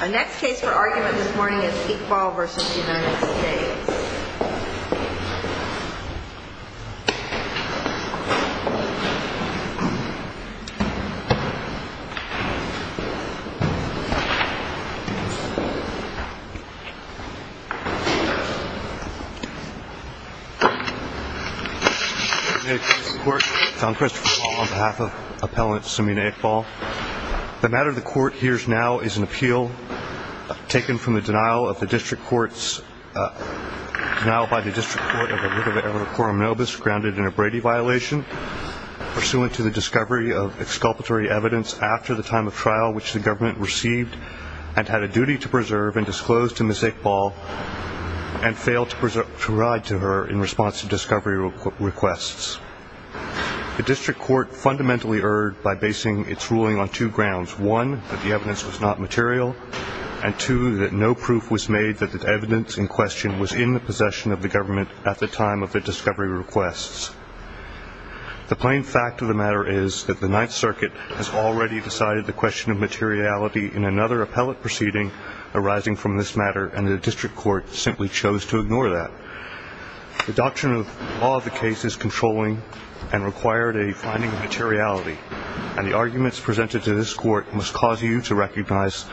Our next case for argument this morning is Iqbal v. United States I'm Christopher Wall on behalf of Appellant Samina Iqbal The matter the court hears now is an appeal taken from the denial of the district court's uh, denial by the district court of Olivia Erivo-Coromnovus grounded in a Brady violation pursuant to the discovery of exculpatory evidence after the time of trial which the government received and had a duty to preserve and disclosed to Ms. Iqbal and failed to provide to her in response to discovery requests The district court fundamentally erred by basing its ruling on two grounds One, that the evidence was not material and two, that no proof was made that the evidence in question was in the possession of the government at the time of the discovery requests The plain fact of the matter is that the Ninth Circuit has already decided the question of materiality in another appellate proceeding arising from this matter and the district court simply chose to ignore that The doctrine of law of the case is controlling and required a finding of materiality and the arguments presented to this court must cause you to recognize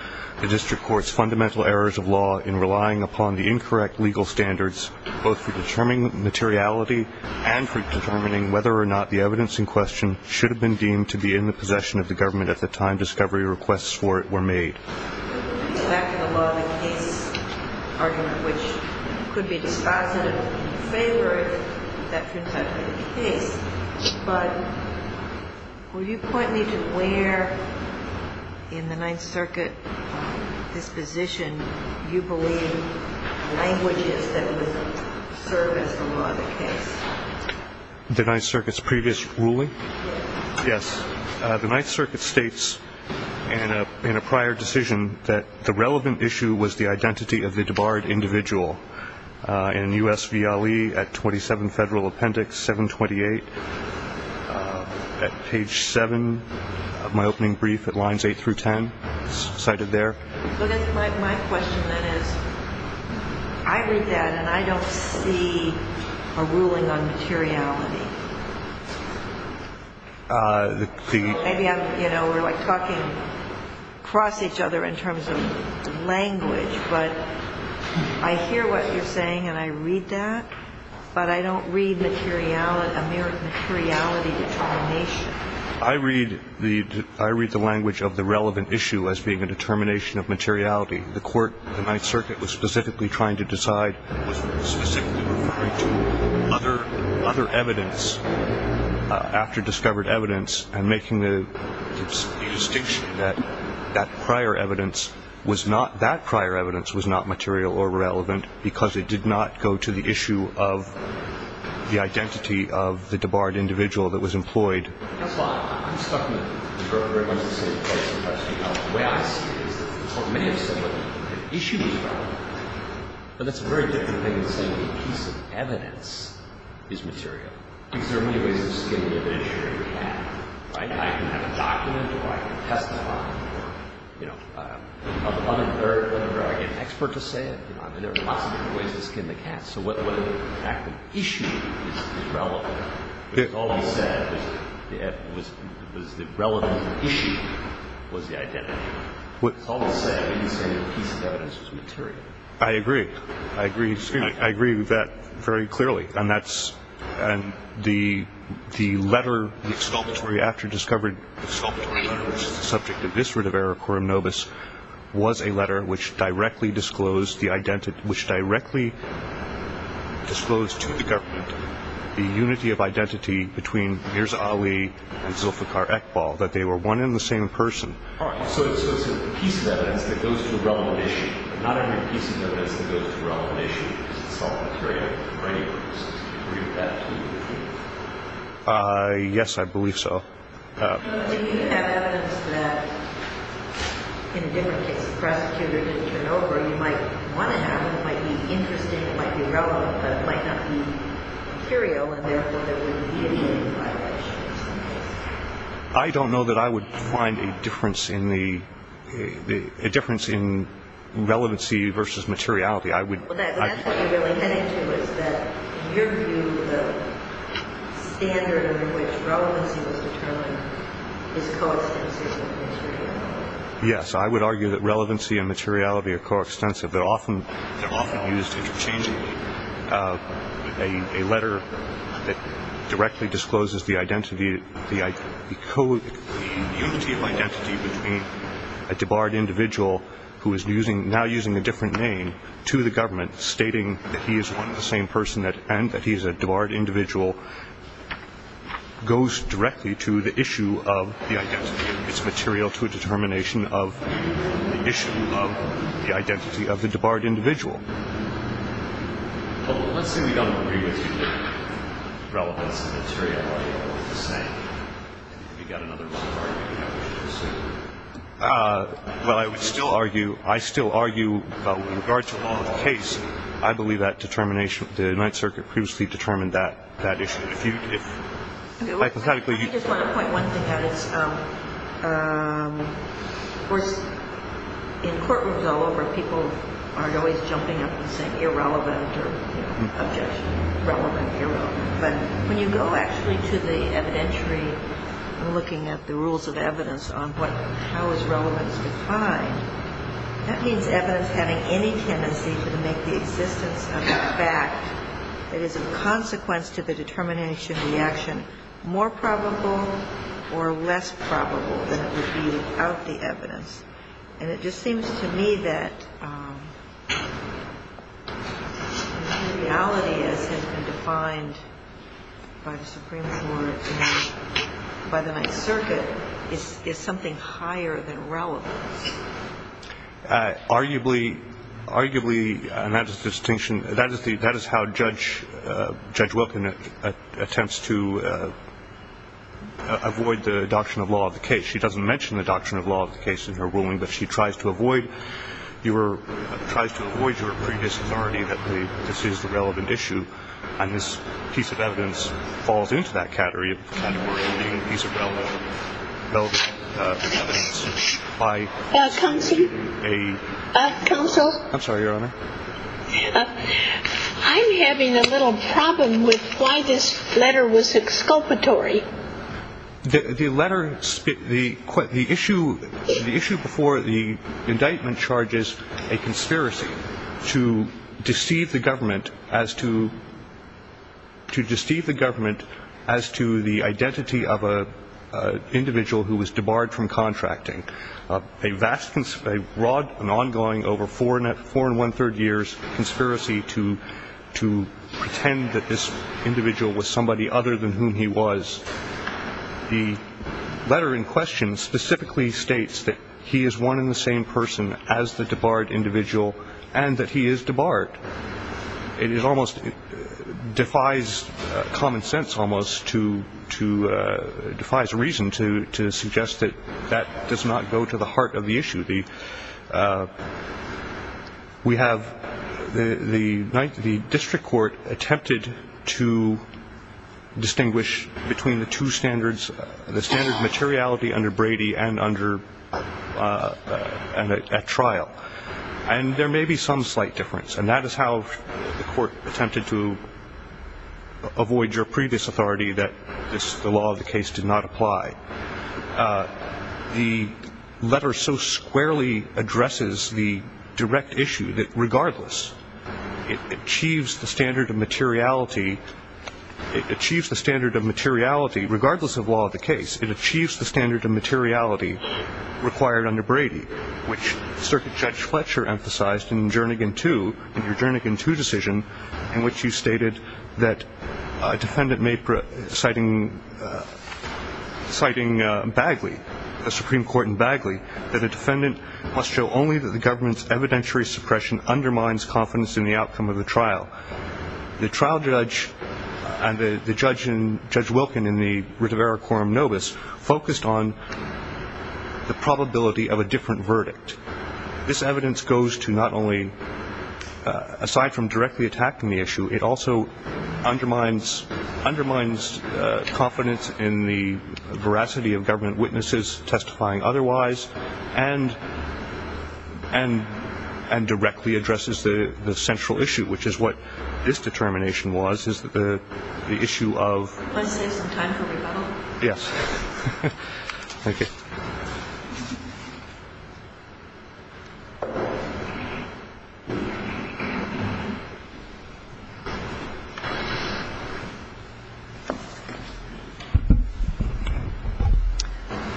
the district court's fundamental errors of law in relying upon the incorrect legal standards both for determining materiality and for determining whether or not the evidence in question should have been deemed to be in the possession of the government at the time discovery requests for it were made Back to the law of the case argument, which could be dispositive in favor if that turns out to be the case but will you point me to where in the Ninth Circuit disposition you believe languages that would serve as the law of the case? The Ninth Circuit's previous ruling? Yes The Ninth Circuit states in a prior decision that the relevant issue was the identity of the debarred individual in USVLE at 27 Federal Appendix 728 at page 7 of my opening brief at lines 8 through 10 cited there My question then is, I read that and I don't see a ruling on materiality Maybe we're talking across each other in terms of language but I hear what you're saying and I read that but I don't read materiality determination I read the language of the relevant issue as being a determination of materiality The court, the Ninth Circuit, was specifically trying to decide was specifically referring to other evidence after discovered evidence and making the distinction that that prior evidence was not that prior evidence was not material or relevant because it did not go to the issue of the identity of the debarred individual that was employed That's fine. I'm stuck in the same place The way I see it is that the court may have said that the issue was relevant but that's a very different thing than saying that a piece of evidence is material because there are many ways of skinning a fish or a cat I can have a document or I can testify or an expert can say it there are lots of different ways of skinning a cat so whether or not the issue is relevant It's always said that the relevant issue was the identity It's always said when you say that a piece of evidence was material I agree. I agree with that very clearly and the letter, the exculpatory after-discovered letter which is the subject of district of error, quorum nobis was a letter which directly disclosed the identity which directly disclosed to the government the unity of identity between Mirza Ali and Zulfiqar Ekbal that they were one and the same person So it's a piece of evidence that goes to a relevant issue not only a piece of evidence that goes to a relevant issue because it's all material for any purpose Do you agree with that? Yes, I believe so Do you have evidence that, in a different case, the prosecutor didn't turn over you might want to have, it might be interesting, it might be relevant but it might not be material and therefore there wouldn't be any violations in this case I don't know that I would find a difference in the a difference in relevancy versus materiality That's what you're really heading to is that your view, the standard in which relevancy was determined is coextensive with materiality Yes, I would argue that relevancy and materiality are coextensive They're often used interchangeably A letter that directly discloses the identity the unity of identity between a debarred individual who is now using a different name to the government stating that he is one and the same person and that he is a debarred individual goes directly to the issue of the identity It's material to a determination of the issue of the identity of the debarred individual Let's say we don't agree with you that relevance and materiality are the same and you've got another debarred individual Well, I would still argue, I still argue, in regards to the law of the case I believe that the United Circuit previously determined that issue I just want to point one thing out In courtrooms all over, people aren't always jumping up and saying irrelevant or objectionable, relevant, irrelevant But when you go actually to the evidentiary and looking at the rules of evidence on how is relevance defined that means evidence having any tendency to make the existence of that fact that is a consequence to the determination of the action more probable or less probable than it would be without the evidence And it just seems to me that materiality as has been defined by the Supreme Court by the United Circuit is something higher than relevance Arguably, and that is the distinction that is how Judge Wilkin attempts to avoid the doctrine of law of the case She doesn't mention the doctrine of law of the case in her ruling but she tries to avoid your previous authority that this is the relevant issue and this piece of evidence falls into that category Counsel? I'm sorry, Your Honor I'm having a little problem with why this letter was exculpatory The issue before the indictment charges a conspiracy to deceive the government to deceive the government as to the identity of an individual who was debarred from contracting a vast and ongoing, over four and one-third years, conspiracy to pretend that this individual was somebody other than whom he was The letter in question specifically states that he is one and the same person as the debarred individual and that he is debarred It defies common sense almost, defies reason to suggest that that does not go to the heart of the issue The District Court attempted to distinguish between the two standards the standard of materiality under Brady and at trial and there may be some slight difference and that is how the court attempted to avoid your previous authority that the law of the case did not apply The letter so squarely addresses the direct issue that regardless it achieves the standard of materiality it achieves the standard of materiality regardless of law of the case it achieves the standard of materiality required under Brady which Circuit Judge Fletcher emphasized in Jernigan 2 in your Jernigan 2 decision in which you stated that a defendant may citing Bagley, the Supreme Court in Bagley that a defendant must show only that the government's evidentiary suppression undermines confidence in the outcome of the trial The trial judge and the judge in, Judge Wilkin in the Ritvera quorum nobis focused on the probability of a different verdict this evidence goes to not only aside from directly attacking the issue it also undermines confidence in the veracity of government witnesses testifying otherwise and directly addresses the central issue which is what this determination was This is the issue of Can I save some time for rebuttal? Yes Thank you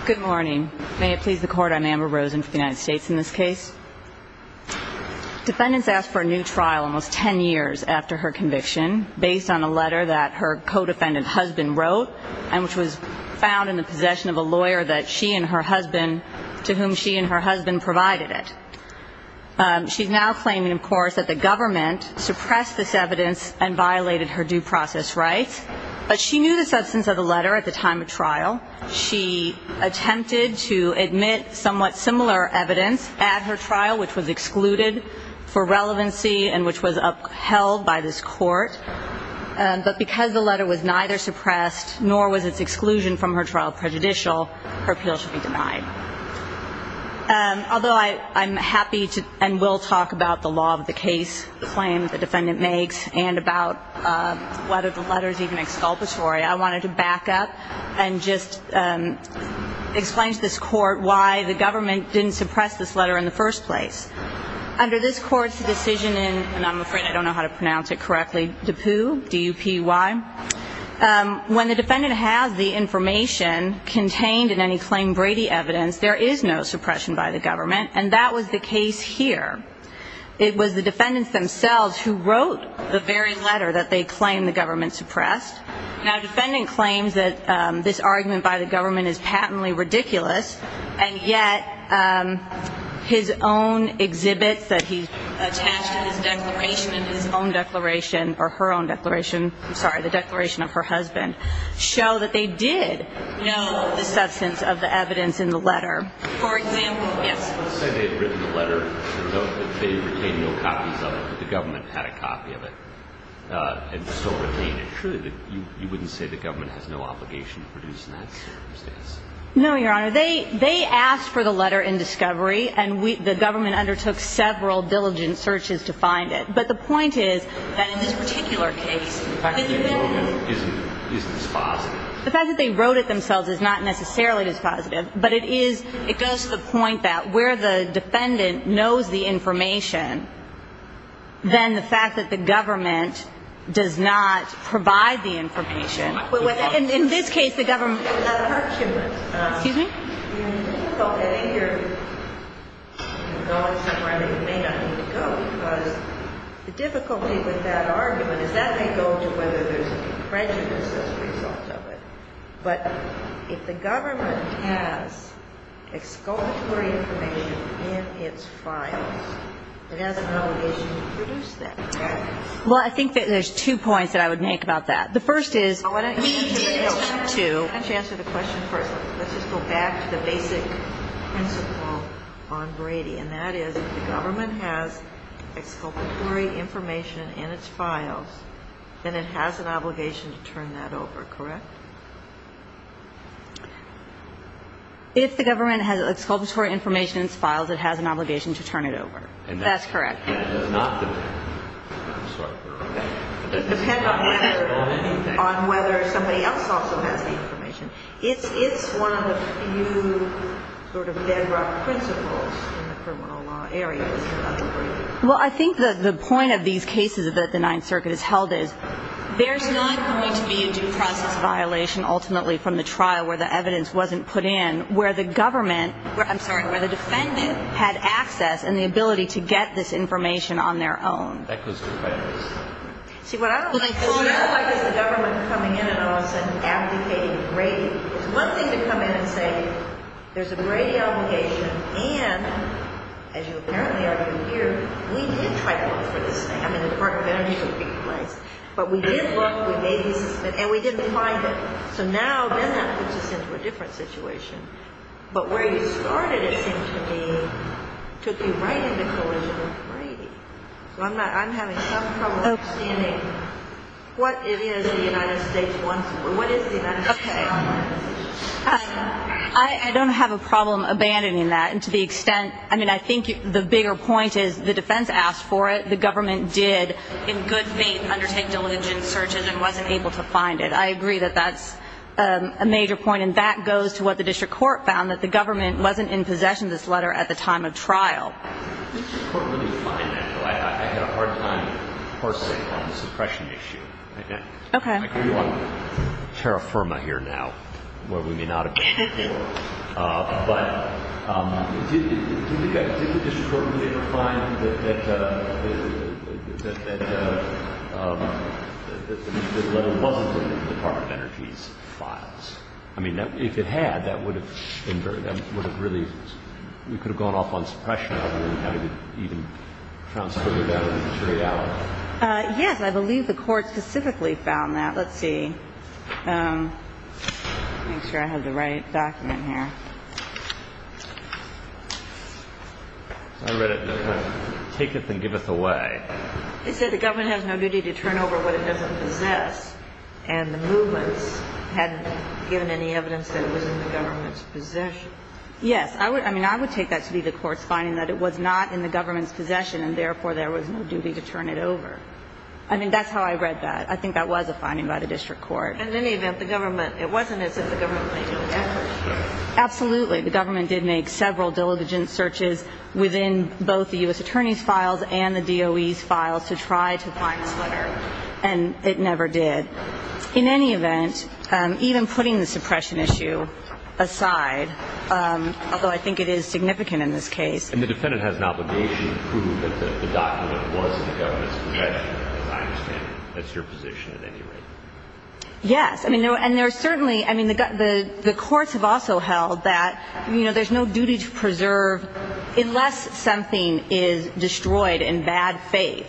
Good morning May it please the court, I'm Amber Rosen from the United States In this case defendants asked for a new trial almost 10 years after her conviction based on a letter that her co-defendant husband wrote and which was found in the possession of a lawyer that she and her husband to whom she and her husband provided it She's now claiming of course that the government suppressed this evidence and violated her due process rights but she knew the substance of the letter at the time of trial she attempted to admit somewhat similar evidence at her trial which was excluded for relevancy and which was upheld by this court but because the letter was neither suppressed nor was its exclusion from her trial prejudicial her appeal should be denied Although I'm happy and will talk about the law of the case the claim the defendant makes and about whether the letter is even exculpatory I wanted to back up and just explain to this court why the government didn't suppress this letter in the first place Under this court's decision in and I'm afraid I don't know how to pronounce it correctly Dupuy When the defendant has the information contained in any claim Brady evidence there is no suppression by the government and that was the case here It was the defendants themselves who wrote the very letter that they claimed the government suppressed Now defendant claims that this argument by the government is patently ridiculous and yet his own exhibits that he attached to his declaration and his own declaration or her own declaration I'm sorry, the declaration of her husband show that they did know the substance of the evidence in the letter For example Yes Say they had written the letter but they retained no copies of it but the government had a copy of it and still retained it Surely you wouldn't say the government has no obligation to produce that circumstance No, your honor They asked for the letter in discovery and the government undertook several diligent searches to find it but the point is that in this particular case The fact that they wrote it isn't dispositive The fact that they wrote it themselves is not necessarily dispositive but it goes to the point that then the fact that the government does not provide the information In this case the government Excuse me Well I think that there's two points that I would make about that The first is Let me answer the question first Let's just go back to the basic principle on Brady and that is if the government has exculpatory information in its files then it has an obligation to turn that over, correct? If the government has exculpatory information in its files it has an obligation to turn it over That's correct But it does not depend I'm sorry It doesn't depend on whether somebody else also has the information It's one of the few sort of bedrock principles in the criminal law area Well I think that the point of these cases that the Ninth Circuit has held is there's not going to be a due process violation ultimately from the trial where the evidence wasn't put in where the government I'm sorry, where the defendant had access and the ability to get this information on their own That goes to fairness See what I don't like is the government coming in and all of a sudden abdicating Brady It's one thing to come in and say there's a Brady obligation and as you apparently argued here we did try to look for this I mean the Department of Energy should be replaced but we did look, we made the assessment and we didn't find it so now then that puts us into a different situation but where you started it seemed to me took you right into collision with Brady I'm having some trouble understanding what it is the United States wants what is the United States I don't have a problem abandoning that and to the extent I mean I think the bigger point is the defense asked for it the government did in good faith undertake diligent searches and wasn't able to find it I agree that that's a major point and that goes to what the district court found that the government wasn't in possession of this letter at the time of trial Did the district court really find that though? I had a hard time parsing on the suppression issue I agree we're on terra firma here now where we may not have been before but did the district court really ever find that that that that that that the letter wasn't in the Department of Energy's files I mean if it had that would have that would have really we could have gone off on suppression yes I believe the court specifically found that let's see make sure I have the right document here I read it taketh and giveth away it said the government has no duty to turn over what it doesn't possess and the movements hadn't given any evidence that it was in the government's possession yes I would I mean I would take that to be the court's finding that it was not in the government's possession and therefore there was no duty to turn it over I mean that's how I read that I think that was a finding by the district court in any event the government it wasn't it said the government absolutely the government did make several diligent searches within both the U.S. Attorney's files and the DOE's files to try to find this letter and it never did in any event even putting the suppression issue aside although I think it is significant in this case and the defendant has an obligation to prove that the document was in the government's possession as I understand it that's your position at any rate yes I mean no and there's certainly I mean the courts have also held that you know there's no duty to preserve unless something is destroyed in bad faith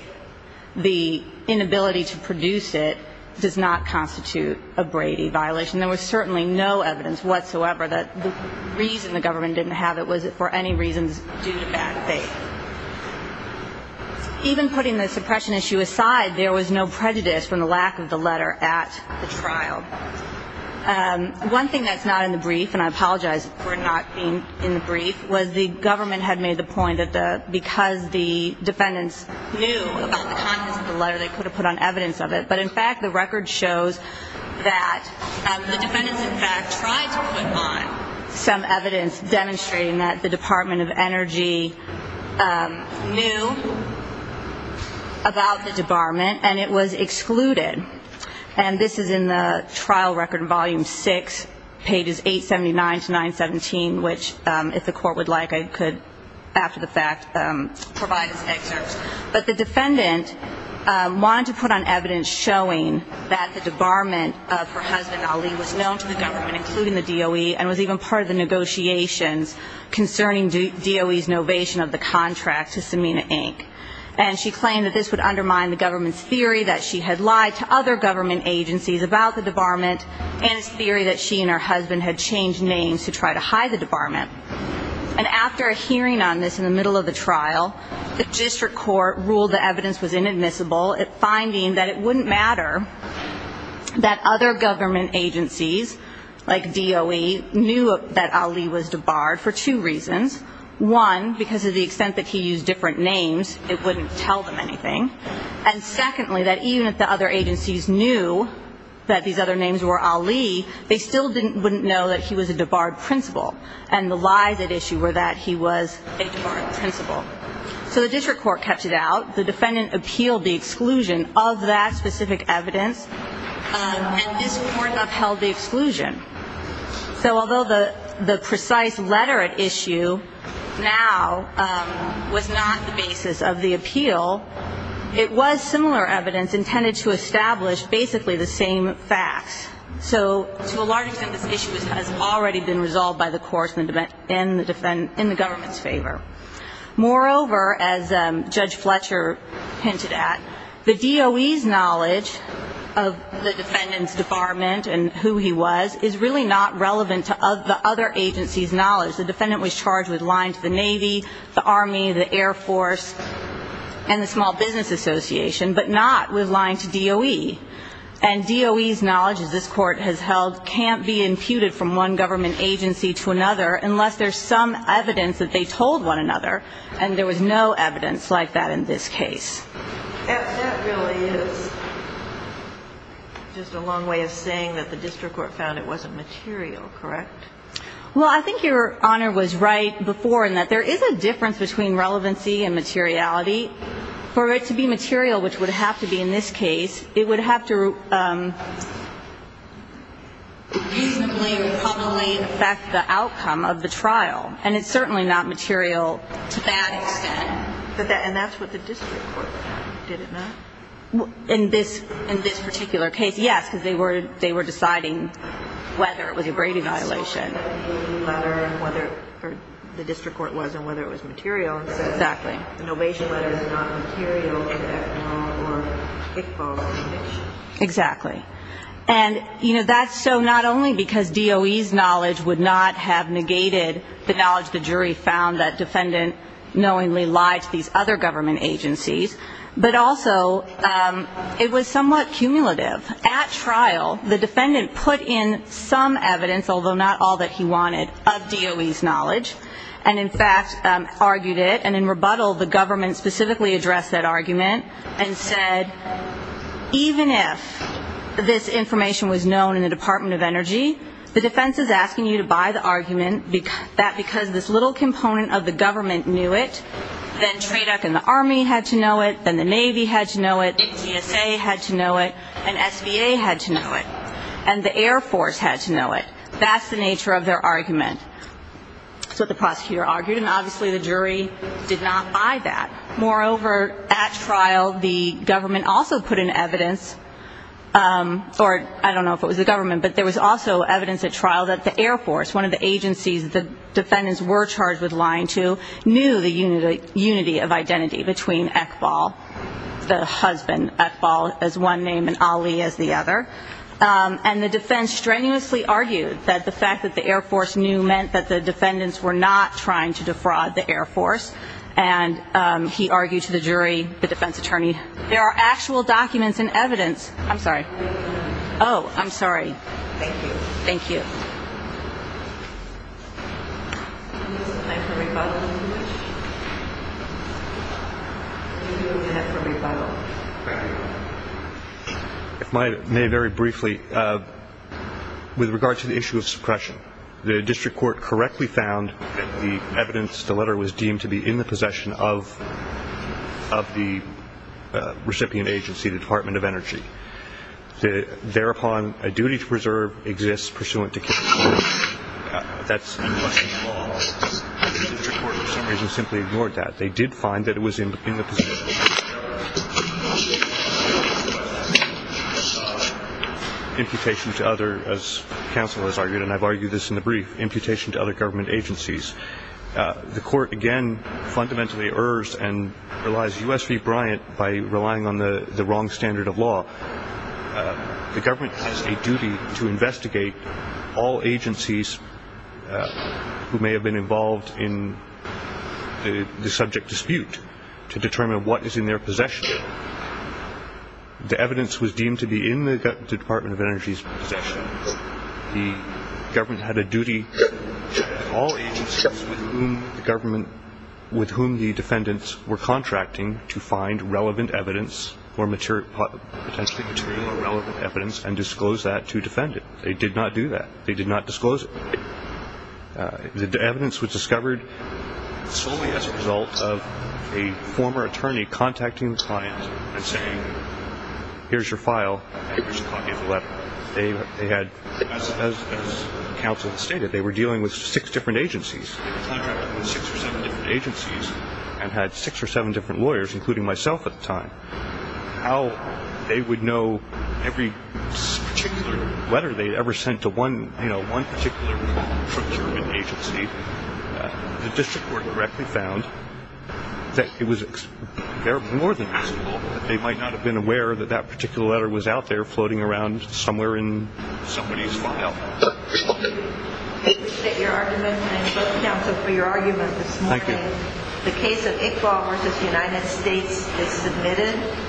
the inability to produce it does not constitute a Brady violation there was certainly no evidence whatsoever that the reason the government didn't have it was for any reasons due to bad faith even putting the suppression issue aside there was no prejudice from the lack of the letter at the trial one thing that's not in the brief and I apologize for not being in the brief was the government had made the point that because the defendants knew about the contents of the letter they could have put on evidence of it but in fact the record shows that the defendants in fact tried to put on some evidence demonstrating that the Department of Energy knew about the debarment and it was excluded and this is in the trial record volume 6 pages 879 to 917 which if the court would like I could after the fact provide this excerpt but the defendant wanted to put on evidence showing that the debarment of her husband Ali was known to the government including the DOE and was even part of the negotiations concerning DOE's novation of the contract to Semina Inc. and she claimed that this would undermine the government's theory that she had lied to other government agencies about the debarment and its theory that she and her husband had changed names to try to hide the debarment and after a hearing on this in the middle of the trial the district court ruled the evidence was inadmissible finding that it wouldn't matter that other government agencies like DOE knew that Ali was debarred for two reasons one because of the extent that he used different names it wouldn't tell them anything and secondly that even if the other agencies knew that these other names were Ali they still wouldn't know that he was a debarred principal and the lies at issue were that he was a debarred principal so the district court kept it out the defendant appealed the exclusion of that specific evidence and this court upheld the exclusion so although the precise letter at issue now was not the basis of the appeal it was similar evidence intended to establish basically the same facts so to a large extent this issue has already been resolved by the courts in the government's favor moreover as Judge Fletcher hinted at the DOE's knowledge of the defendant's debarment and who he was is really not relevant to the other agencies' knowledge the defendant was charged with lying to the Navy the Army, the Air Force and the Small Business Association but not with lying to DOE and DOE's knowledge as this court has held can't be imputed from one government agency to another unless there's some evidence that they told one another and there was no evidence like that in this case and that really is just a long way of saying that the district court found it wasn't material, correct? well I think your honor was right before in that there is a difference between relevancy and materiality for it to be material, which would have to be in this case it would have to reasonably or probably affect the outcome of the trial and it's certainly not material to that extent and that's what the district court found, did it not? in this particular case, yes because they were deciding whether it was a grade evaluation so the DOE letter, or the district court was on whether it was material and said the Novation letter is not material in that law or Iqbal's conviction exactly and that's so not only because DOE's knowledge would not have negated the knowledge the jury found that defendant knowingly lied to these other government agencies but also it was somewhat cumulative at trial, the defendant put in some evidence although not all that he wanted of DOE's knowledge and in fact argued it and in rebuttal the government specifically addressed that argument and said, even if this information was known in the Department of Energy the defense is asking you to buy the argument that because this little component of the government knew it then TRADOC and the Army had to know it then the Navy had to know it, GSA had to know it and SVA had to know it and the Air Force had to know it that's the nature of their argument that's what the prosecutor argued and obviously the jury did not buy that moreover, at trial the government also put in evidence or I don't know if it was the government but there was also evidence at trial that the Air Force one of the agencies the defendants were charged with lying to knew the unity of identity between Iqbal the husband Iqbal as one name and Ali as the other and the defense strenuously argued that the fact that the Air Force knew meant that the defendants were not trying to defraud the Air Force and he argued to the jury, the defense attorney there are actual documents and evidence I'm sorry, oh I'm sorry thank you if I may very briefly with regard to the issue of suppression the district court correctly found the evidence, the letter was deemed to be in the possession of of the recipient agency the Department of Energy thereupon a duty to preserve exists pursuant to case law that's in Washington law the district court for some reason simply ignored that they did find that it was in the possession imputation to other as counsel has argued and I've argued this in the brief imputation to other government agencies the court again fundamentally errs and relies U.S. v. Bryant by relying on the wrong standard of law the government has a duty to investigate all agencies who may have been involved in the subject dispute to determine what is in their possession the evidence was deemed to be in the Department of Energy's possession the government had a duty all agencies with whom the government with whom the defendants were contracting to find relevant evidence or potentially material or relevant evidence and disclose that to defend it they did not do that, they did not disclose it the evidence was discovered solely as a result of a former attorney contacting the client and saying here's your file here's a copy of the letter as counsel has stated they were dealing with six different agencies they were contracting with six or seven different agencies and had six or seven different lawyers including myself at the time how they would know every particular letter they had ever sent to one particular procurement agency the district court directly found that it was more than possible that they might not have been aware that that particular letter was out there floating around somewhere in somebody's file I appreciate your argument and I thank counsel for your argument this morning the case of Iqbal v. United States is submitted